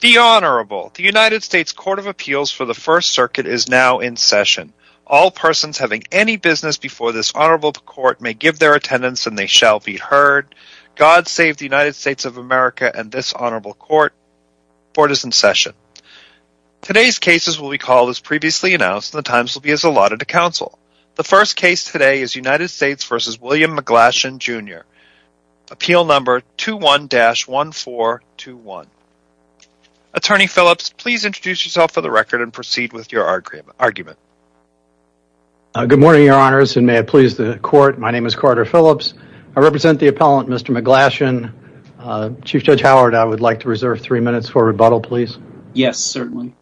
The Honorable. The United States Court of Appeals for the First Circuit is now in session. All persons having any business before this Honorable Court may give their attendance and they shall be heard. God save the United States of America and this Honorable Court. Court is in session. Today's cases will be called as previously announced and the times will be as allotted to counsel. The first case today is United States v. William McGlashan Jr. Appeal number 21-1421. Attorney Phillips, please introduce yourself for the record and proceed with your argument. Good morning, Your Honors, and may it please the Court, my name is Carter Phillips. I represent the appellant, Mr. McGlashan. Chief Judge Howard, I would like to reserve three minutes for rebuttal, please. Yes, certainly.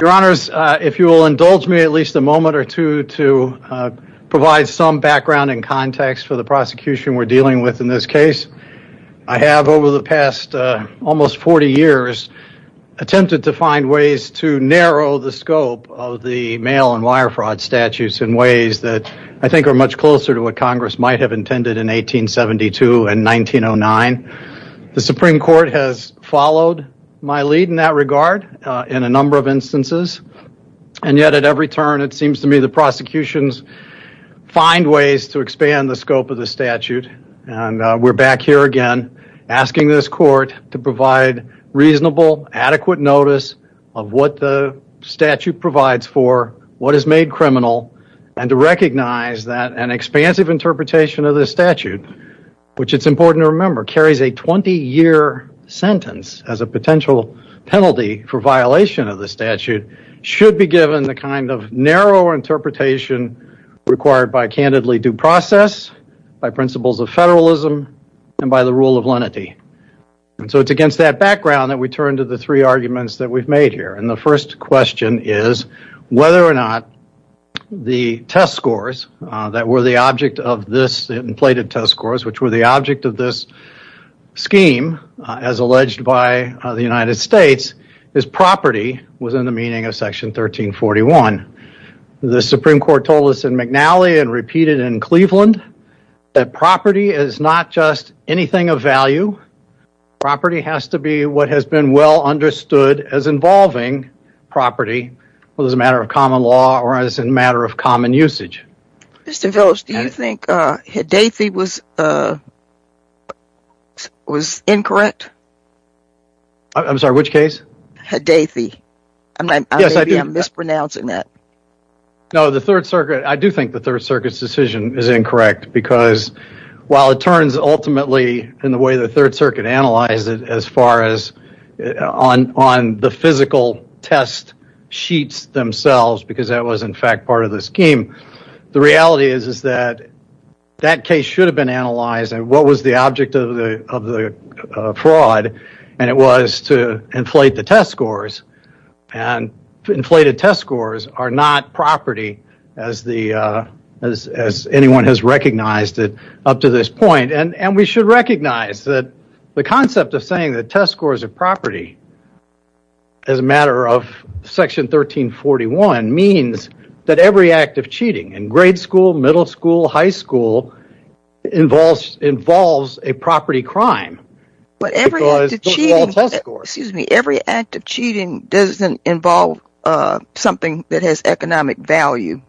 Your Honors, if you will indulge me at least a moment or two to provide some background and context for the prosecution we're dealing with in this case. I have, over the past almost 40 years, attempted to find ways to narrow the scope of the mail and wire fraud statutes in ways that I think are much closer to what Congress might have intended in 1872 and 1909. The Supreme Court has followed my lead in that regard in a number of instances and yet at every turn it seems to me the prosecutions find ways to expand the scope of the statute and we're back here again asking this Court to provide reasonable, adequate notice of what the statute provides for, what is made criminal and to recognize that an expansive interpretation of this statute, which it's a 20-year sentence as a potential penalty for violation of the statute, should be given the kind of narrow interpretation required by candidly due process, by principles of federalism and by the rule of lenity. It's against that background that we turn to the three arguments that we've made here. The first question is whether or not the test scheme as alleged by the United States is property within the meaning of Section 1341. The Supreme Court told us in McNally and repeated in Cleveland that property is not just anything of value. Property has to be what has been well understood as involving property as a matter of common law or as a matter of common usage. Mr. Phillips, do you think Hedethi was incorrect? I'm sorry, which case? Hedethi. Maybe I'm mispronouncing that. No, the Third Circuit, I do think the Third Circuit's decision is incorrect because while it turns ultimately in the way the Third Circuit analyzed it as far as on the physical test sheets themselves because that was in fact part of the scheme, the reality is that that case should have been analyzed and what was the object of the fraud and it was to inflate the test scores and inflated test scores are not property as anyone has recognized it up to this point. And we should recognize that the concept of saying that test scores are property under Section 1341 means that every act of cheating in grade school, middle school, high school involves a property crime. But every act of cheating doesn't involve something that has economic value.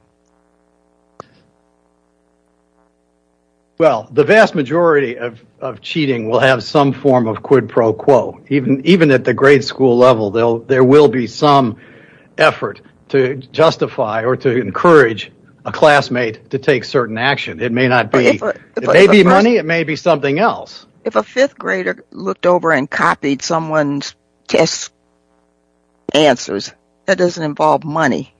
Well, the vast majority of cheating will have some form of quid pro quo. Even at the grade school level, there will be some effort to justify or to encourage a classmate to take certain action. It may be money, it may be something else. If a fifth grader looked over and copied someone's test answers, that doesn't involve money.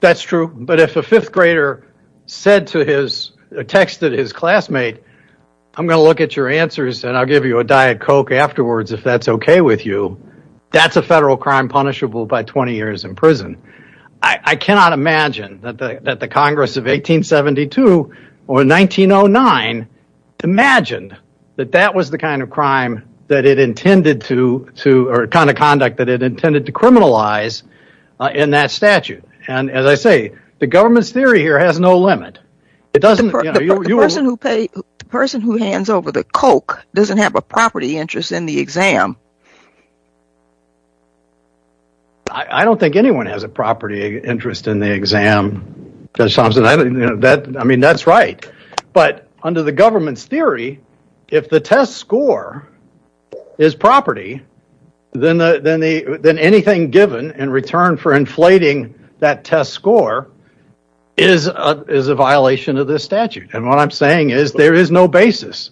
That's true, but if a fifth grader texted his classmate, I'm going to look at your answers and I'll give you a Diet Coke afterwards if that's okay with you, that's a federal crime punishable by 20 years in prison. I cannot imagine that the Congress of 1872 or 1909 imagined that that was the kind of conduct that it intended to criminalize in that statute. And as I say, the government's theory here has no limit. The person who hands over the Coke doesn't have a property interest in the exam. I don't think anyone has a property interest in the exam, Judge Thompson. I mean, that's right. But under the government's theory, if the test score is property, then anything given in return for inflating that test score is a violation of this statute. And what I'm saying is there is no basis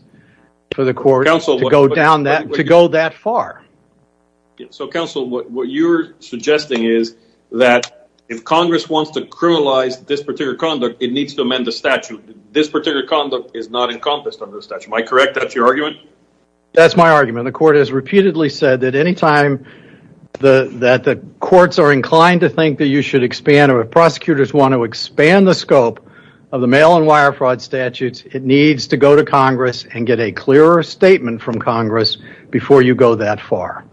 for the court to go that far. So, counsel, what you're suggesting is that if Congress wants to criminalize this particular conduct, it needs to amend the statute. This particular conduct is not encompassed under the statute. Am I correct? That's your argument? That's my argument. The court has repeatedly said that any time that the courts are inclined to think that you should expand or prosecutors want to expand the scope of the mail and wire fraud statutes, it needs to go to Congress and get a clearer statement from Congress before you go that far.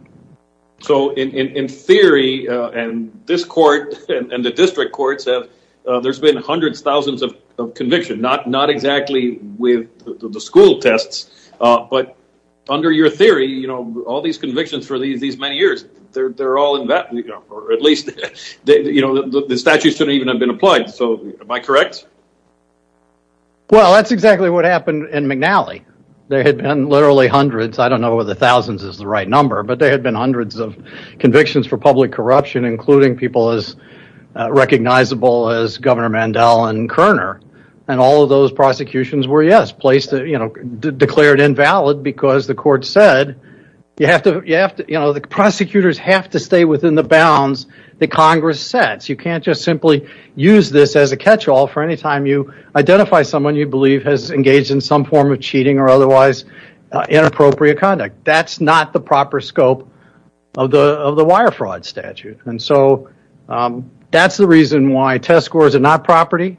So in theory, and this court and the district courts, there's been hundreds, thousands of conviction, not exactly with the school tests, but under your theory, all these convictions for these many years, they're all in that, or at least the statute shouldn't even have been applied. So am I correct? Well, that's exactly what happened in McNally. There had been literally hundreds. I don't know whether thousands is the right number, but there had been hundreds of convictions for public corruption, including people as recognizable as Governor Mandel and Kerner. And all of those prosecutions were, yes, placed, you know, declared invalid because the court said, you have to, you know, the prosecutors have to stay within the bounds that Congress sets. You can't just simply use this as a catch-all for any time you identify someone you believe has engaged in some form of cheating or otherwise inappropriate conduct. That's not the proper scope of the wire fraud statute. And so that's the reason why test scores are not property.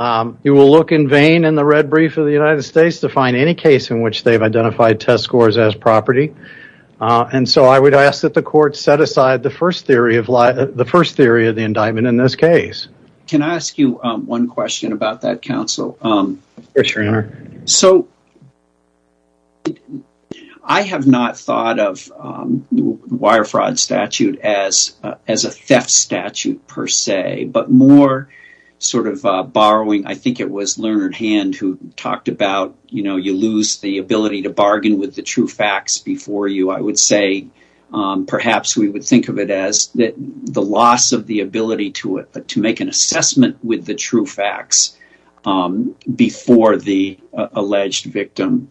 You will look in vain in the red brief of the United States to find any case in which they've identified test scores as property. And so I would ask that the court set aside the first theory of the indictment in this case. Can I ask you one question about that, counsel? Yes, your honor. So I have not thought of wire fraud statute as a theft statute per se, but more sort of borrowing. I think it was Leonard Hand who talked about, you know, you lose the ability to bargain with the true facts before you. I would say perhaps we would think of it as that the loss of the ability to it, but to make an assessment with the true facts before the alleged victim.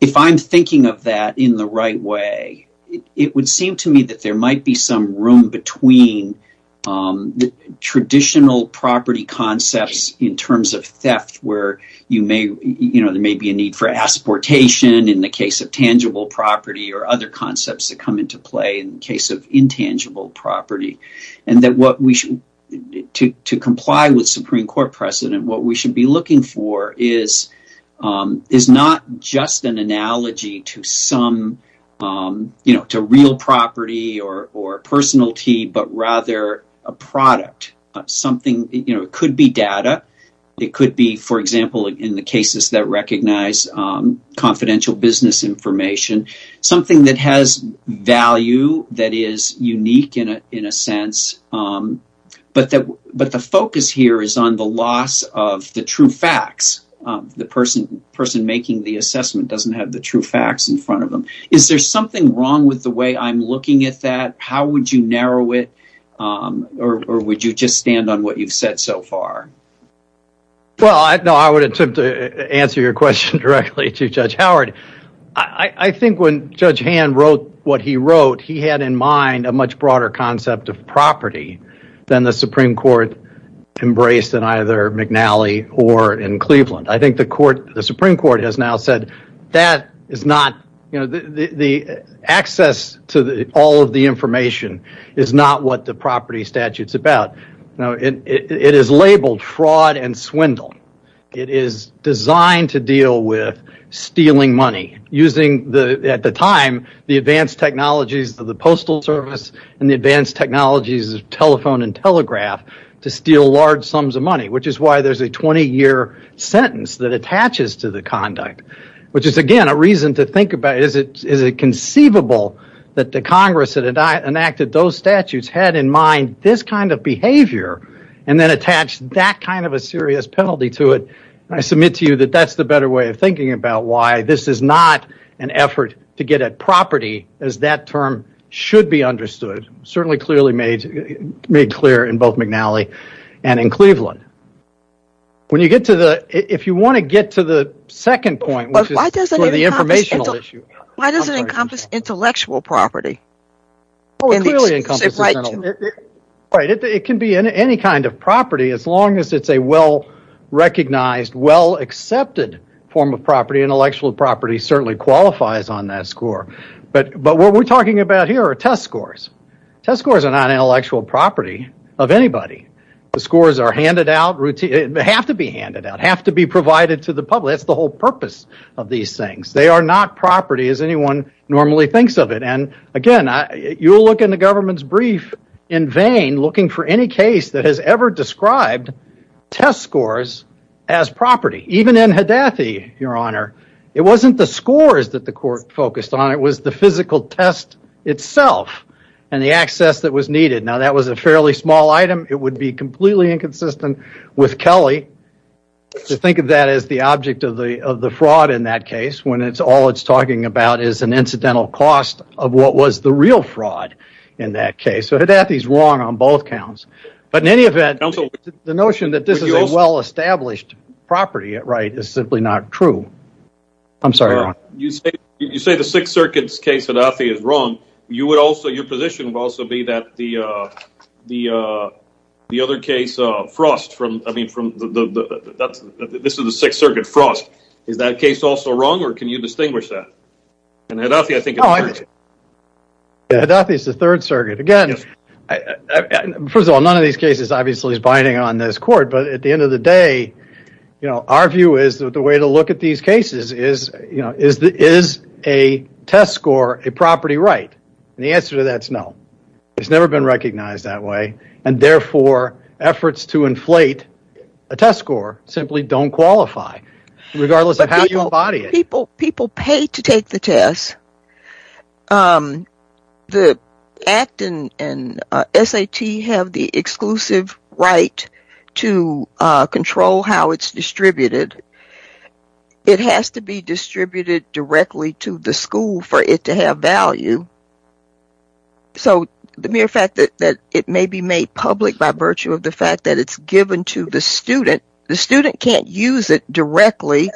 If I'm thinking of that in the right way, it would seem to me that there might be some room between the traditional property concepts in terms of theft, where there may be a need for exportation in the case of tangible property or other concepts that come into play in the case of intangible property. And to comply with Supreme Court precedent, what we should be looking for is not just an analogy to real property or personality, but rather a product. It could be data. It could be, for example, in the cases that recognize confidential business information, something that has value that is unique in a sense. But the focus here is on the loss of the true facts. The person making the assessment doesn't have the true facts in front of them. Is there something wrong with the way I'm looking at that? How would you narrow it? Or would you just stand on what you've said so far? Well, I would attempt to answer your question directly to Judge Howard. I think when Judge Hand wrote what he wrote, he had in mind a much broader concept of property than the Supreme Court embraced in either McNally or in Cleveland. I think the Supreme Court has now said that access to all of the information is not what the property statute is about. It is labeled fraud and swindle. It is designed to deal with stealing money, using at the time the advanced technologies of the Postal Service and the advanced technologies of telephone and telegraph to steal large sums of money, which is why there's a 20-year sentence that attaches to the conduct, which is, again, a reason to think about is it conceivable that the Congress that enacted those statutes had in mind this kind of behavior and then attached that kind of a serious penalty to it. I submit to you that that's the better way of thinking about why this is not an effort to get at property as that term should be understood, certainly clearly made clear in both McNally and in Cleveland. If you want to get to the second point, which is the informational issue. Why does it encompass intellectual property? It clearly encompasses intellectual property. It can be any kind of property as long as it's a well-recognized, well-accepted form of property. Intellectual property certainly qualifies on that score. But what we're talking about here are test scores. Test scores are not intellectual property of anybody. The scores are handed out. They have to be handed out, have to be provided to the public. That's the whole purpose of these things. They are not property as anyone normally thinks of it. And, again, you'll look in the government's brief in vain looking for any case that has ever described test scores as property. Even in Haddafi, your honor, it wasn't the scores that the court focused on. It was the physical test itself and the access that was needed. Now, that was a fairly small item. It would be completely inconsistent with Kelly to think of that as the object of the fraud in that case when all it's talking about is an incidental cost of what was the real fraud in that case. So Haddafi's wrong on both counts. But in any event, the notion that this is a well-established property at right is simply not true. I'm sorry, your honor. You say the Sixth Circuit's case, Haddafi, is wrong. Your position would also be that the other case, Frost, I mean, this is the Sixth Circuit, Frost. Is that case also wrong or can you distinguish that? In Haddafi, I think it's true. Haddafi is the Third Circuit. Again, first of all, none of these cases obviously is binding on this court. But at the end of the day, you know, our view is that the way to look at these cases is, you know, is a test score a property right? And the answer to that is no. It's never been recognized that way. And therefore, efforts to inflate a test score simply don't qualify regardless of how you embody it. People pay to take the test. The ACT and SAT have the exclusive right to control how it's distributed. It has to be distributed directly to the school for it to have value. So the mere fact that it may be made public by virtue of the fact that it's given to the student, the student can't use it directly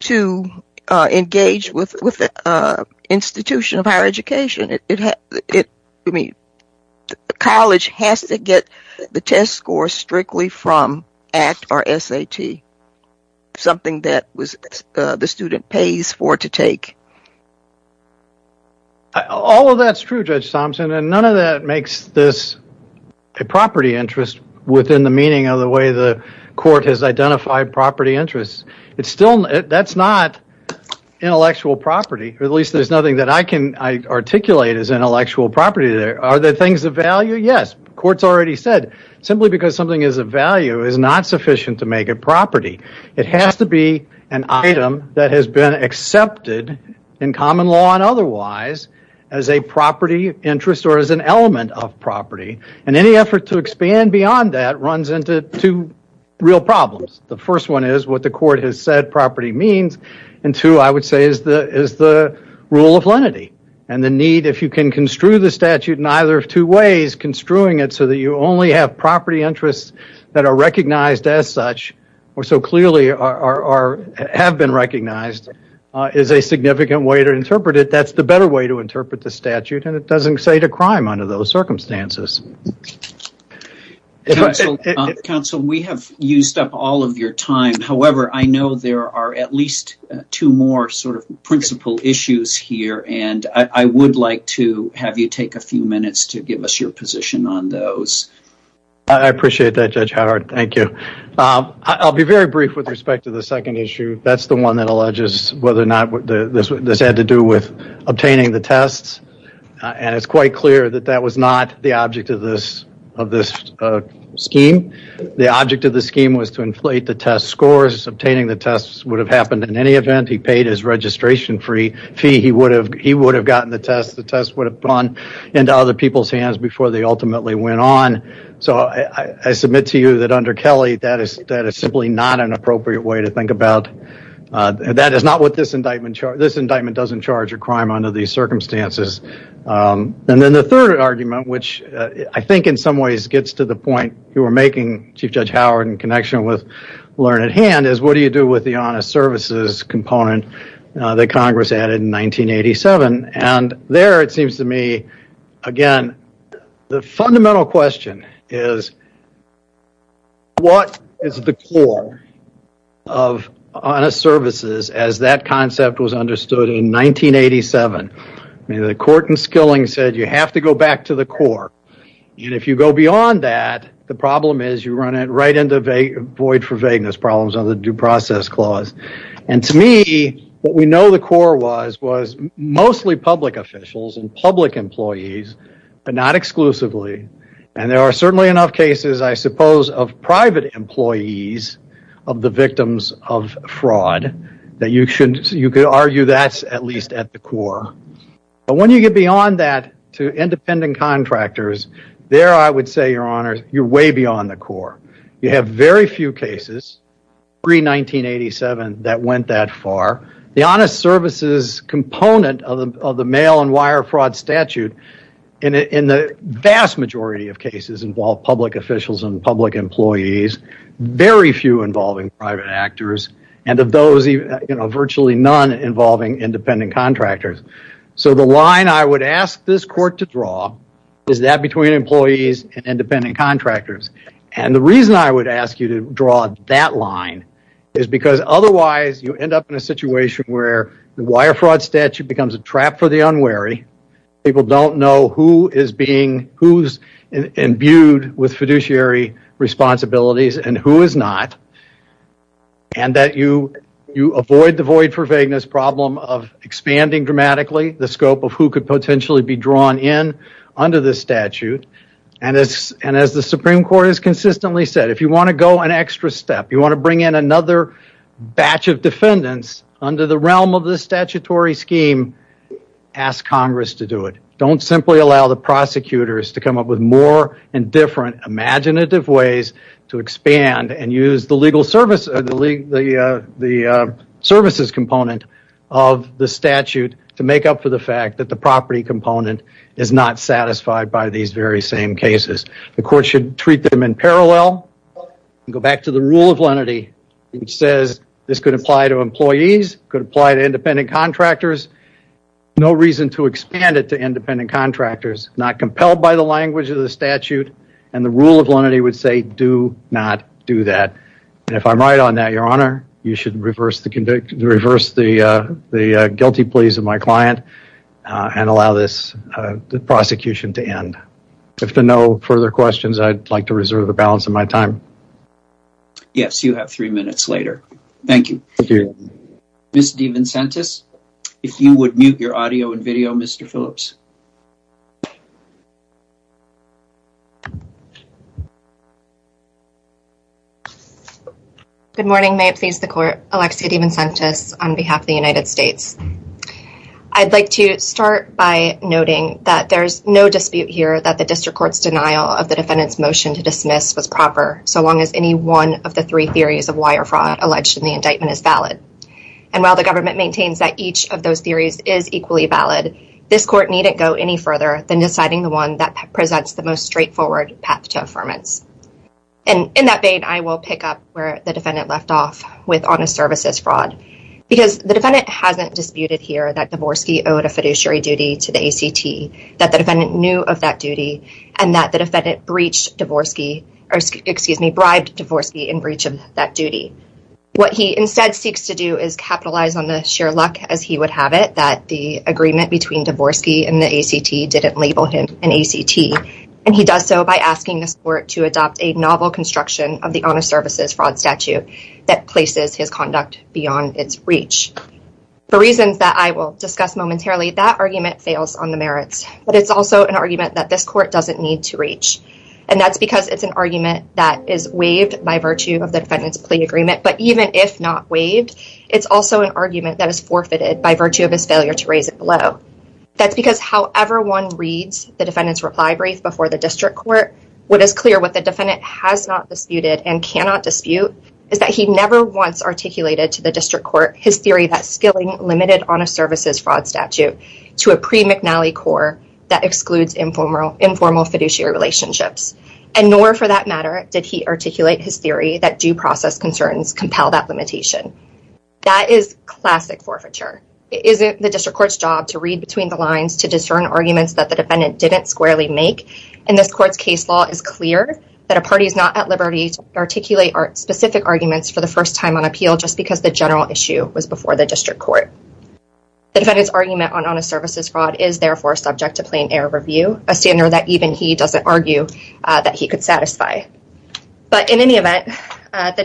to engage with the institution of higher education. College has to get the test score strictly from ACT or SAT, something that the student pays for to take. All of that's true, Judge Thompson, and none of that makes this a property interest within the meaning of the way the court has identified property interests. That's not intellectual property, or at least there's nothing that I can articulate as intellectual property there. Are there things of value? Yes. Courts already said simply because something is of value is not sufficient to make it property. It has to be an item that has been accepted in common law and otherwise as a property interest or as an element of property, and any effort to expand beyond that runs into two real problems. The first one is what the court has said property means, and two, I would say, is the rule of lenity and the need if you can construe the statute in either of two ways, so that you only have property interests that are recognized as such, or so clearly have been recognized, is a significant way to interpret it. That's the better way to interpret the statute, and it doesn't say to crime under those circumstances. Counsel, we have used up all of your time. However, I know there are at least two more sort of principal issues here, and I would like to have you take a few minutes to give us your position on those. I appreciate that, Judge Howard. Thank you. I'll be very brief with respect to the second issue. That's the one that alleges whether or not this had to do with obtaining the tests, and it's quite clear that that was not the object of this scheme. The object of the scheme was to inflate the test scores. Obtaining the tests would have happened in any event. He paid his registration fee. He would have gotten the test. The test would have gone into other people's hands before they ultimately went on. So I submit to you that under Kelly, that is simply not an appropriate way to think about. This indictment doesn't charge a crime under these circumstances. And then the third argument, which I think in some ways gets to the point you were making, Chief Judge Howard, in connection with Learned Hand, is what do you do with the honest services component that Congress added in 1987? And there it seems to me, again, the fundamental question is what is the core of honest services as that concept was understood in 1987? The court in Skilling said you have to go back to the core. And if you go beyond that, the problem is you run right into void for vagueness problems under the due process clause. And to me, what we know the core was was mostly public officials and public employees, but not exclusively. And there are certainly enough cases, I suppose, of private employees of the victims of fraud that you could argue that's at least at the core. But when you get beyond that to independent contractors, there I would say, Your Honor, you're way beyond the core. You have very few cases pre-1987 that went that far. The honest services component of the mail and wire fraud statute, in the vast majority of cases, involved public officials and public employees, very few involving private actors, and of those, virtually none involving independent contractors. So the line I would ask this court to draw is that between employees and independent contractors. And the reason I would ask you to draw that line is because otherwise you end up in a situation where the wire fraud statute becomes a trap for the unwary. People don't know who's imbued with fiduciary responsibilities and who is not. And that you avoid the void for vagueness problem of expanding dramatically the scope of who could potentially be drawn in under this statute. And as the Supreme Court has consistently said, if you want to go an extra step, you want to bring in another batch of defendants under the realm of this statutory scheme, ask Congress to do it. Don't simply allow the prosecutors to come up with more and different imaginative ways to expand and use the legal services component of the statute to make up for the fact that the property component is not satisfied by these very same cases. The court should treat them in parallel. Go back to the rule of lenity, which says this could apply to employees, could apply to independent contractors. No reason to expand it to independent contractors. Not compelled by the language of the statute. And the rule of lenity would say do not do that. And if I'm right on that, Your Honor, you should reverse the guilty pleas of my client and allow this prosecution to end. If there are no further questions, I'd like to reserve the balance of my time. Yes, you have three minutes later. Thank you. Thank you. Ms. DeVincentis, if you would mute your audio and video, Mr. Phillips. Good morning. May it please the court. Alexia DeVincentis on behalf of the United States. I'd like to start by noting that there's no dispute here that the district court's denial so long as any one of the three theories of wire fraud alleged in the indictment is valid. And while the government maintains that each of those theories is equally valid, this court needn't go any further than deciding the one that presents the most straightforward path to affirmance. And in that vein, I will pick up where the defendant left off with honest services fraud. Because the defendant hasn't disputed here that Dvorsky owed a fiduciary duty to the ACT, that the defendant knew of that duty, and that the defendant bribed Dvorsky in breach of that duty. What he instead seeks to do is capitalize on the sheer luck, as he would have it, that the agreement between Dvorsky and the ACT didn't label him an ACT. And he does so by asking this court to adopt a novel construction of the honest services fraud statute that places his conduct beyond its reach. For reasons that I will discuss momentarily, that argument fails on the merits. But it's also an argument that this court doesn't need to reach. And that's because it's an argument that is waived by virtue of the defendant's plea agreement. But even if not waived, it's also an argument that is forfeited by virtue of his failure to raise it below. That's because however one reads the defendant's reply brief before the district court, what is clear what the defendant has not disputed and cannot dispute is that he never once articulated to the district court his theory that that excludes informal fiduciary relationships. And nor, for that matter, did he articulate his theory that due process concerns compel that limitation. That is classic forfeiture. It isn't the district court's job to read between the lines to discern arguments that the defendant didn't squarely make. And this court's case law is clear that a party is not at liberty to articulate specific arguments for the first time on appeal just because the general issue was before the district court. The defendant's argument on honest services fraud is therefore subject to plain error review, a standard that even he doesn't argue that he could satisfy. But in any event, the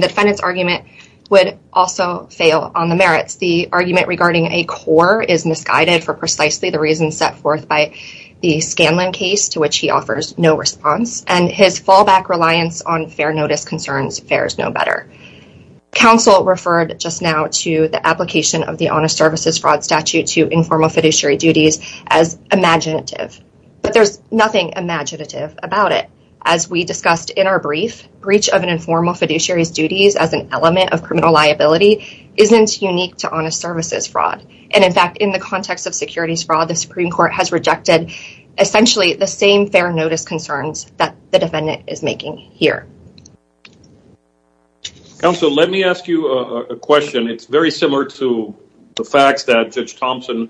defendant's argument would also fail on the merits. The argument regarding a core is misguided for precisely the reasons set forth by the Scanlon case, to which he offers no response, and his fallback reliance on fair notice concerns fares no better. Counsel referred just now to the application of the honest services fraud statute to informal fiduciary duties as imaginative. But there's nothing imaginative about it. As we discussed in our brief, breach of an informal fiduciary's duties as an element of criminal liability isn't unique to honest services fraud. And in fact, in the context of securities fraud, the Supreme Court has rejected essentially the same fair notice concerns that the defendant is making here. Counsel, let me ask you a question. It's very similar to the facts that Judge Thompson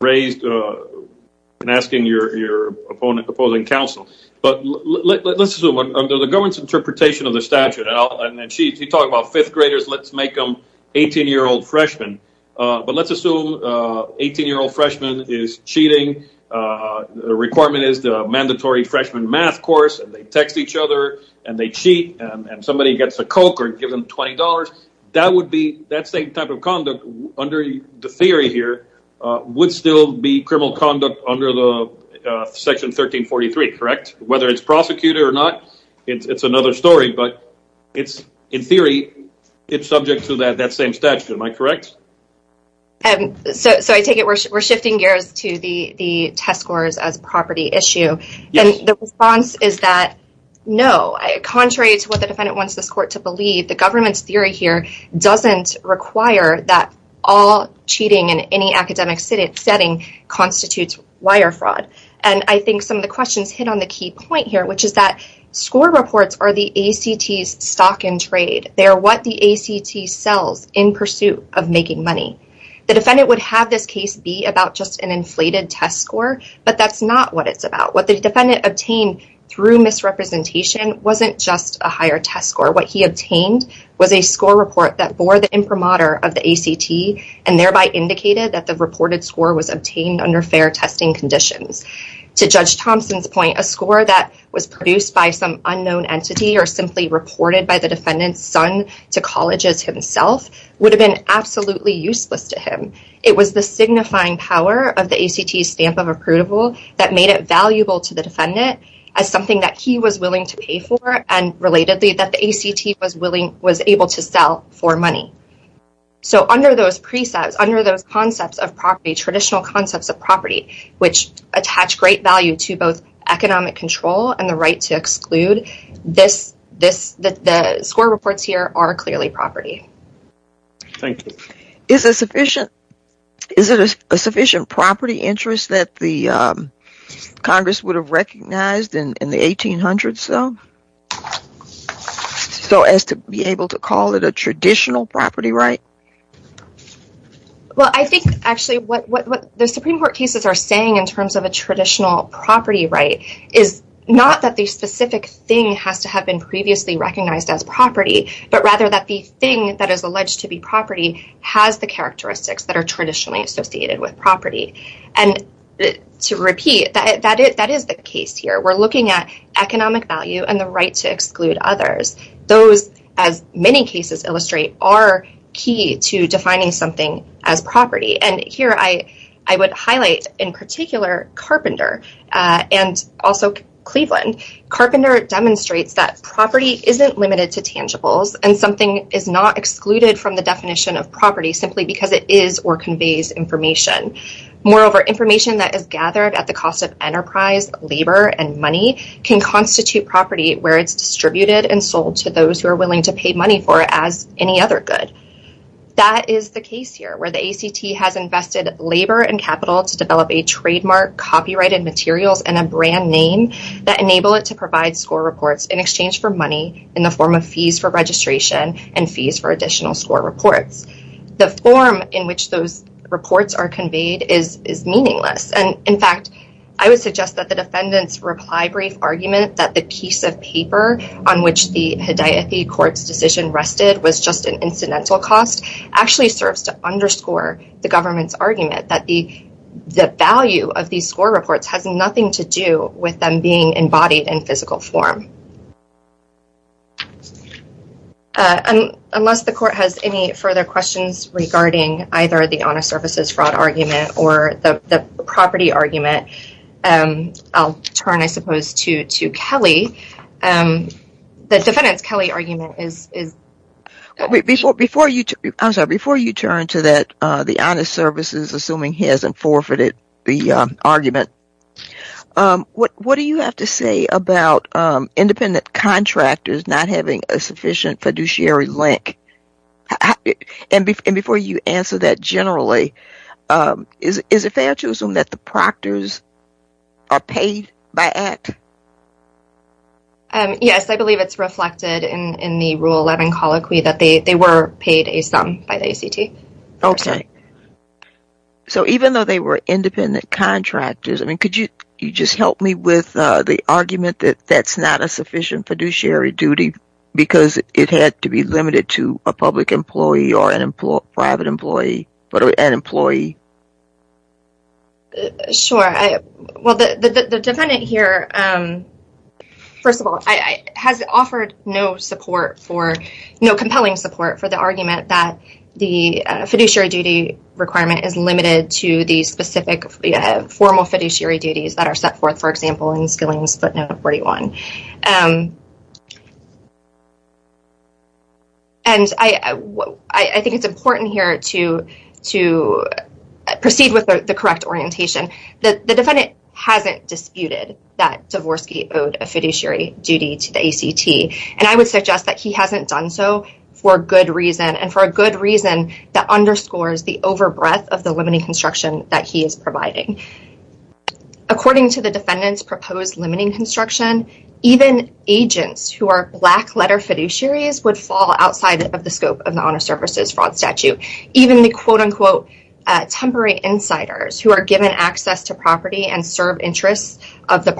raised in asking your opposing counsel. But let's assume under the government's interpretation of the statute, and she talked about fifth graders, let's make them 18-year-old freshmen. But let's assume 18-year-old freshmen is cheating. The requirement is the mandatory freshman math course, and they text each other, and they cheat, and somebody gets a Coke or gives them $20. That would be that same type of conduct under the theory here would still be criminal conduct under Section 1343, correct? Whether it's prosecuted or not, it's another story. But in theory, it's subject to that same statute. Am I correct? So I take it we're shifting gears to the test scores as a property issue. And the response is that no, contrary to what the defendant wants this court to believe, the government's theory here doesn't require that all cheating in any academic setting constitutes wire fraud. And I think some of the questions hit on the key point here, which is that score reports are the ACT's stock and trade. They are what the ACT sells in pursuit of making money. The defendant would have this case be about just an inflated test score, but that's not what it's about. What the defendant obtained through misrepresentation wasn't just a higher test score. What he obtained was a score report that bore the imprimatur of the ACT and thereby indicated that the reported score was obtained under fair testing conditions. To Judge Thompson's point, a score that was produced by some unknown entity or simply reported by the defendant's son to colleges himself would have been absolutely useless to him. It was the signifying power of the ACT's stamp of approval that made it valuable to the defendant as something that he was willing to pay for and relatedly that the ACT was able to sell for money. So under those precepts, under those concepts of property, traditional concepts of property, which attach great value to both economic control and the right to exclude, the score reports here are clearly property. Thank you. Is it a sufficient property interest that the Congress would have recognized in the 1800s though? So as to be able to call it a traditional property right? Well, I think actually what the Supreme Court cases are saying in terms of a traditional property right is not that the specific thing has to have been previously recognized as property, but rather that the thing that is alleged to be property has the characteristics that are traditionally associated with property. And to repeat, that is the case here. We're looking at economic value and the right to exclude others. Those, as many cases illustrate, are key to defining something as property. And here I would highlight in particular Carpenter and also Cleveland. Carpenter demonstrates that property isn't limited to tangibles and something is not excluded from the definition of property simply because it is or conveys information. Moreover, information that is gathered at the cost of enterprise, labor, and money can constitute property where it's distributed and sold to those who are willing to pay money for it as any other good. That is the case here where the ACT has invested labor and capital to develop a trademark, copyrighted materials, and a brand name that enable it to provide score reports in exchange for money in the form of fees for registration and fees for additional score reports. The form in which those reports are conveyed is meaningless. And, in fact, I would suggest that the defendants' reply brief argument that the piece of paper on which the Hedayethi court's decision rested was just an incidental cost actually serves to underscore the government's argument that the value of these score reports has nothing to do with them being embodied in physical form. Unless the court has any further questions regarding either the honest services fraud argument or the property argument, I'll turn, I suppose, to Kelly. The defendants' Kelly argument is... Before you turn to the honest services, assuming he hasn't forfeited the argument, what do you have to say about independent contractors not having a sufficient fiduciary link? And before you answer that generally, is it fair to assume that the proctors are paid by ACT? Yes, I believe it's reflected in the Rule 11 colloquy that they were paid a sum by the ACT. Okay. So even though they were independent contractors, I mean, could you just help me with the argument that that's not a sufficient fiduciary duty because it had to be limited to a public employee or a private employee, an employee? Sure. Well, the defendant here, first of all, has offered no support for, no compelling support for the argument that the fiduciary duty requirement is limited to the specific formal fiduciary duties that are set forth, for example, in Skillings Footnote 41. And I think it's important here to proceed with the correct orientation. The defendant hasn't disputed that Dvorsky owed a fiduciary duty to the ACT, and I would suggest that he hasn't done so for good reason, and for a good reason that underscores the overbreath of the limiting construction that he is providing. According to the defendant's proposed limiting construction, even agents who are black-letter fiduciaries would fall outside of the scope of the Honor Services Fraud Statute. Even the, quote-unquote, temporary insiders who are given access to property and serve interests of the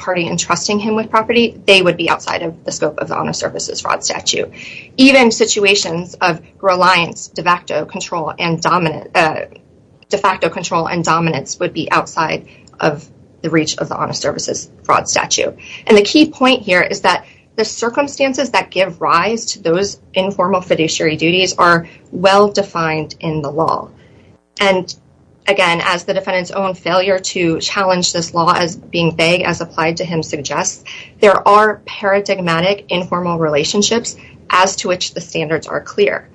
party and trusting him with property, they would be outside of the scope of the Honor Services Fraud Statute. Even situations of reliance, de facto control, and dominance would be outside of the reach of the Honor Services Fraud Statute. And the key point here is that the circumstances that give rise to those informal fiduciary duties are well-defined in the law. And again, as the defendant's own failure to challenge this law as being vague as applied to him suggests, there are paradigmatic informal relationships as to which the standards are clear.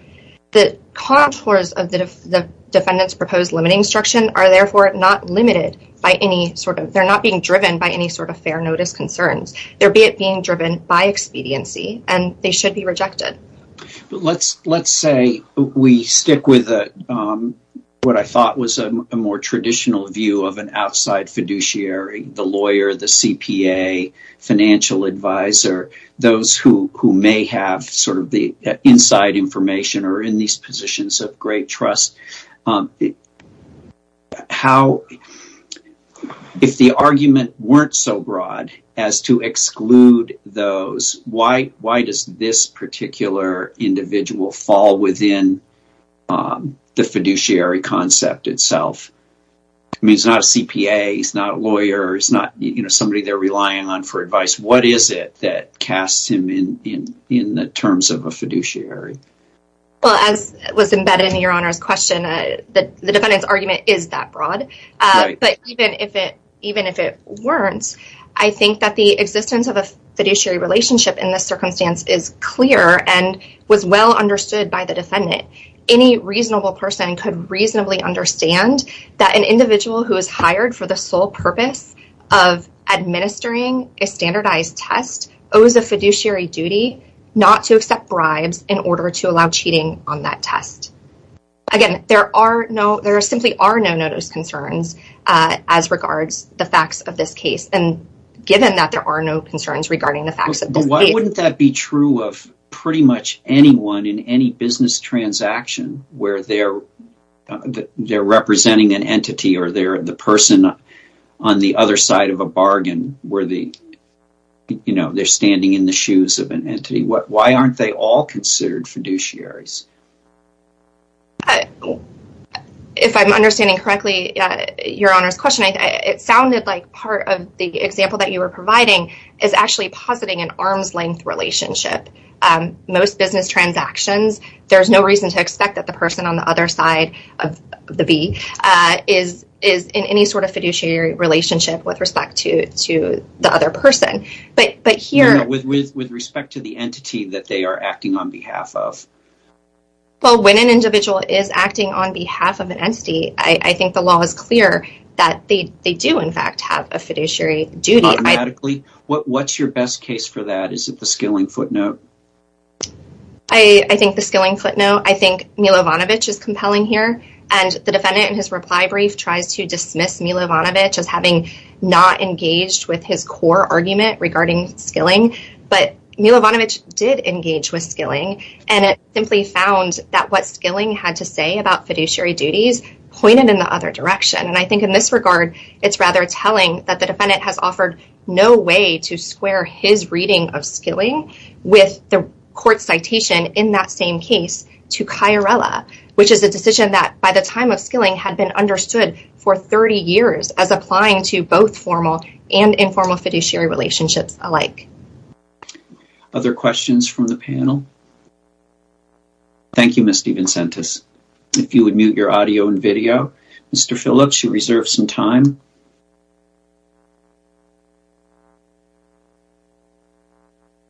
The contours of the defendant's proposed limiting construction are therefore not limited by any sort of, they're not being driven by any sort of fair notice concerns. There be it being driven by expediency, and they should be rejected. Let's say we stick with what I thought was a more traditional view of an outside fiduciary, the lawyer, the CPA, financial advisor, those who may have sort of the inside information or are in these positions of great trust. If the argument weren't so broad as to exclude those, why does this particular individual fall within the fiduciary concept itself? I mean, he's not a CPA, he's not a lawyer, he's not somebody they're relying on for advice. What is it that casts him in the terms of a fiduciary? Well, as was embedded in your Honor's question, the defendant's argument is that broad. But even if it weren't, I think that the existence of a fiduciary relationship in this circumstance is clear and was well understood by the defendant. Any reasonable person could reasonably understand that an individual who is hired for the sole purpose of administering a standardized test owes a fiduciary duty not to accept bribes in order to allow cheating on that test. Again, there simply are no notice concerns as regards the facts of this case. And given that there are no concerns regarding the facts of this case… Why aren't they all considered fiduciaries? If I'm understanding correctly, your Honor's question, it sounded like part of the example that you were providing is actually positing an arm's length relationship. Most business transactions, there's no reason to expect that the person on the other side of the V is in any sort of fiduciary relationship with respect to the other person. With respect to the entity that they are acting on behalf of. Well, when an individual is acting on behalf of an entity, I think the law is clear that they do in fact have a fiduciary duty. Automatically. What's your best case for that? Is it the skilling footnote? I think the skilling footnote, I think Milovanovic is compelling here. And the defendant in his reply brief tries to dismiss Milovanovic as having not engaged with his core argument regarding skilling. But Milovanovic did engage with skilling. And it simply found that what skilling had to say about fiduciary duties pointed in the other direction. And I think in this regard, it's rather telling that the defendant has offered no way to square his reading of skilling with the court citation in that same case to Chiarella. Which is a decision that by the time of skilling had been understood for 30 years as applying to both formal and informal fiduciary relationships alike. Other questions from the panel? Thank you, Ms. DeVincentis. If you would mute your audio and video, Mr. Phillips, you reserve some time.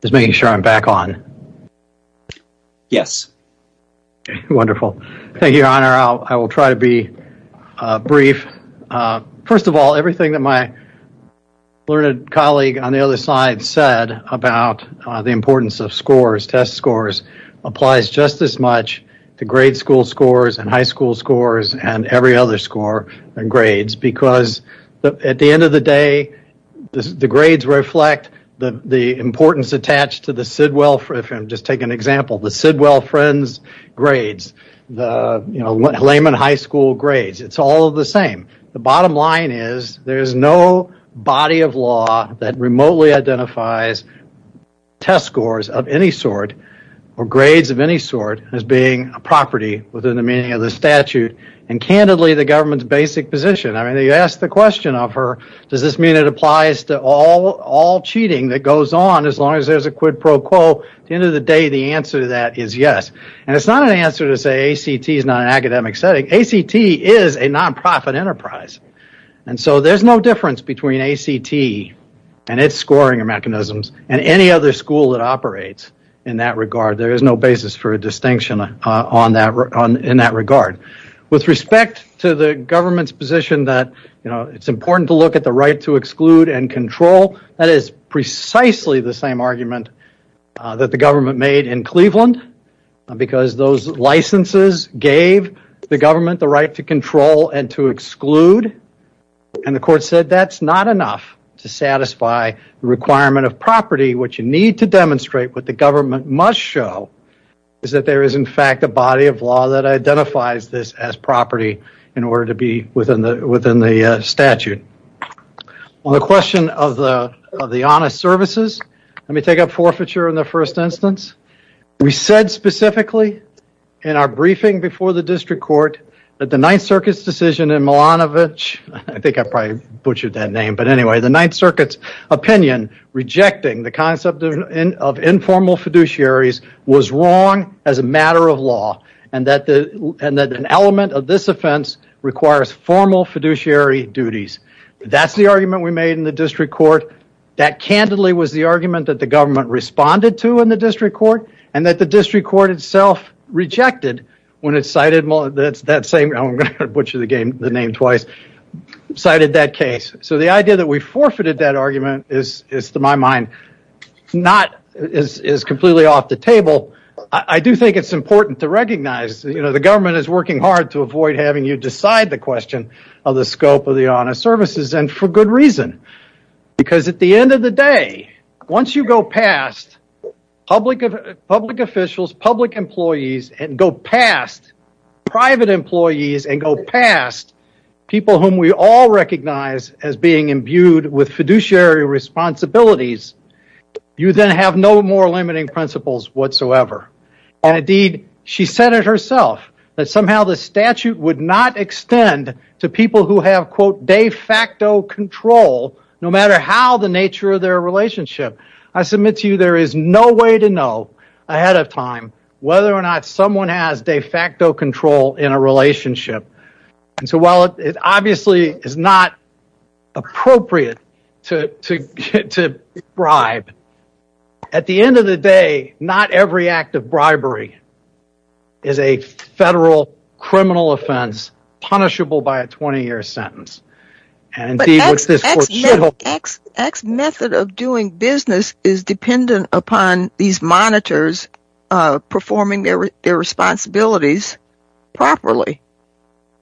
Just making sure I'm back on. Yes. Wonderful. Thank you, Your Honor. I will try to be brief. First of all, everything that my learned colleague on the other side said about the importance of scores, test scores, applies just as much to grade school scores and high school scores and every other score and grades. Because at the end of the day, the grades reflect the importance attached to the Sidwell, if I can just take an example, the Sidwell Friends grades, the Lehman High School grades. It's all the same. The bottom line is there is no body of law that remotely identifies test scores of any sort or grades of any sort as being a property within the meaning of the statute. And candidly, the government's basic position. I mean, you ask the question of her, does this mean it applies to all cheating that goes on as long as there's a quid pro quo? At the end of the day, the answer to that is yes. And it's not an answer to say ACT is not an academic setting. ACT is a nonprofit enterprise. And so there's no difference between ACT and its scoring mechanisms and any other school that operates in that regard. There is no basis for a distinction in that regard. With respect to the government's position that it's important to look at the right to exclude and control, that is precisely the same argument that the government made in Cleveland. Because those licenses gave the government the right to control and to exclude. And the court said that's not enough to satisfy the requirement of property. What you need to demonstrate, what the government must show, is that there is in fact a body of law that identifies this as property in order to be within the statute. On the question of the honest services, let me take up forfeiture in the first instance. We said specifically in our briefing before the district court that the Ninth Circuit's decision in Milanovich, I think I probably butchered that name, but anyway, the Ninth Circuit's opinion rejecting the concept of informal fiduciaries was wrong as a matter of law. And that an element of this offense requires formal fiduciary duties. That's the argument we made in the district court. That candidly was the argument that the government responded to in the district court and that the district court itself rejected when it cited that case. So the idea that we forfeited that argument is, to my mind, completely off the table. I do think it's important to recognize that the government is working hard to avoid having you decide the question of the scope of the honest services. And for good reason. Because at the end of the day, once you go past public officials, public employees, and go past private employees, and go past people whom we all recognize as being imbued with fiduciary responsibilities, you then have no more limiting principles whatsoever. And indeed, she said it herself, that somehow the statute would not extend to people who have, quote, de facto control, no matter how the nature of their relationship. I submit to you there is no way to know ahead of time whether or not someone has de facto control in a relationship. And so while it obviously is not appropriate to bribe, at the end of the day, not every act of bribery is a federal criminal offense punishable by a 20-year sentence. But X method of doing business is dependent upon these monitors performing their responsibilities properly.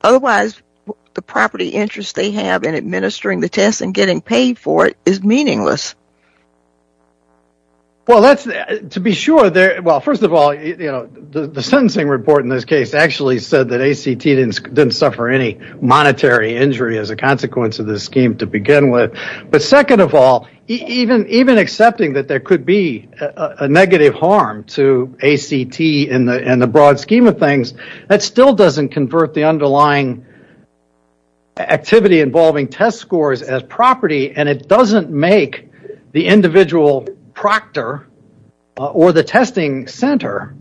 Otherwise, the property interest they have in administering the test and getting paid for it is meaningless. Well, to be sure, first of all, the sentencing report in this case actually said that ACT didn't suffer any monetary injury as a consequence of this scheme to begin with. But second of all, even accepting that there could be a negative harm to ACT in the broad scheme of things, that still doesn't convert the underlying activity involving test scores as property, and it doesn't make the individual proctor or the testing center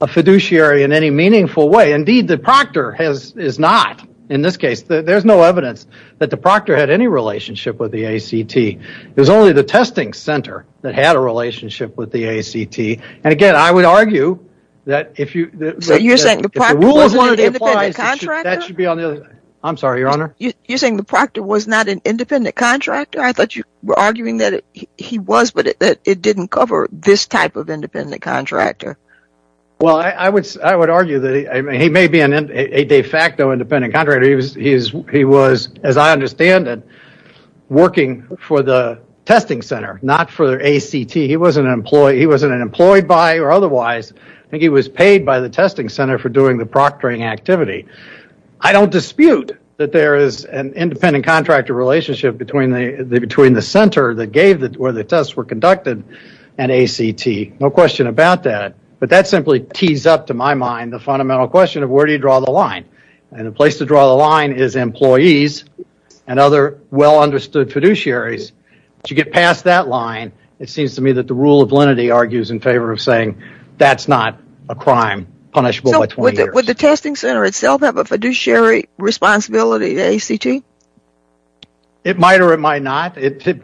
a fiduciary in any meaningful way. Indeed, the proctor is not. In this case, there's no evidence that the proctor had any relationship with the ACT. It was only the testing center that had a relationship with the ACT. And again, I would argue that if you... So you're saying the proctor wasn't an independent contractor? I'm sorry, Your Honor? You're saying the proctor was not an independent contractor? I thought you were arguing that he was, but that it didn't cover this type of independent contractor. Well, I would argue that he may be a de facto independent contractor. He was, as I understand it, working for the testing center, not for ACT. He wasn't employed by or otherwise. I think he was paid by the testing center for doing the proctoring activity. I don't dispute that there is an independent contractor relationship between the center where the tests were conducted and ACT. No question about that. But that simply tees up, to my mind, the fundamental question of where do you draw the line? And the place to draw the line is employees and other well-understood fiduciaries. If you get past that line, it seems to me that the rule of lenity argues in favor of saying that's not a crime punishable by 20 years. Would the testing center itself have a fiduciary responsibility to ACT? It might or it might not. That's the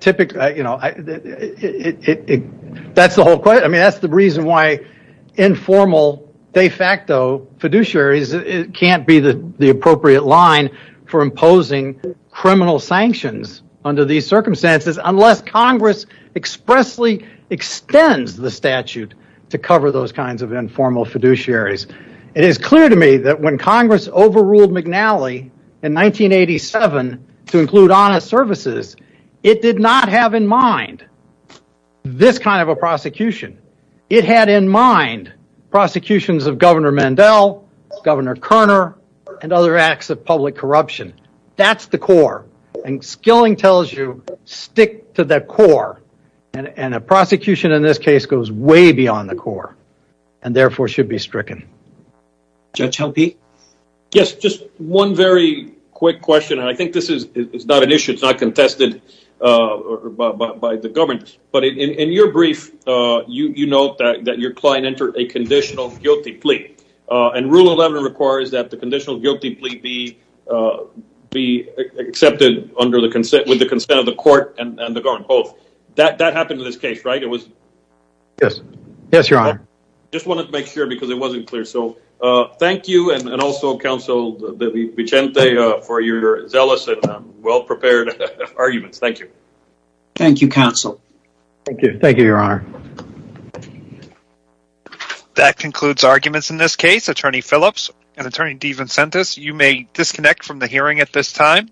whole question. I mean, that's the reason why informal de facto fiduciaries can't be the appropriate line for imposing criminal sanctions under these circumstances unless Congress expressly extends the statute to cover those kinds of informal fiduciaries. It is clear to me that when Congress overruled McNally in 1987 to include honest services, it did not have in mind this kind of a prosecution. It had in mind prosecutions of Governor Mandel, Governor Kerner, and other acts of public corruption. That's the core. And Skilling tells you, stick to the core. And a prosecution in this case goes way beyond the core and, therefore, should be stricken. Judge Helpe? Yes, just one very quick question, and I think this is not an issue. It's not contested by the government. But in your brief, you note that your client entered a conditional guilty plea. And Rule 11 requires that the conditional guilty plea be accepted with the consent of the court and the government, both. That happened in this case, right? Yes, Your Honor. I just wanted to make sure because it wasn't clear. So thank you, and also, Counsel Vicente, for your zealous and well-prepared arguments. Thank you. Thank you, Counsel. Thank you, Your Honor. That concludes arguments in this case. Attorney Phillips and Attorney DeVincentis, you may disconnect from the hearing at this time.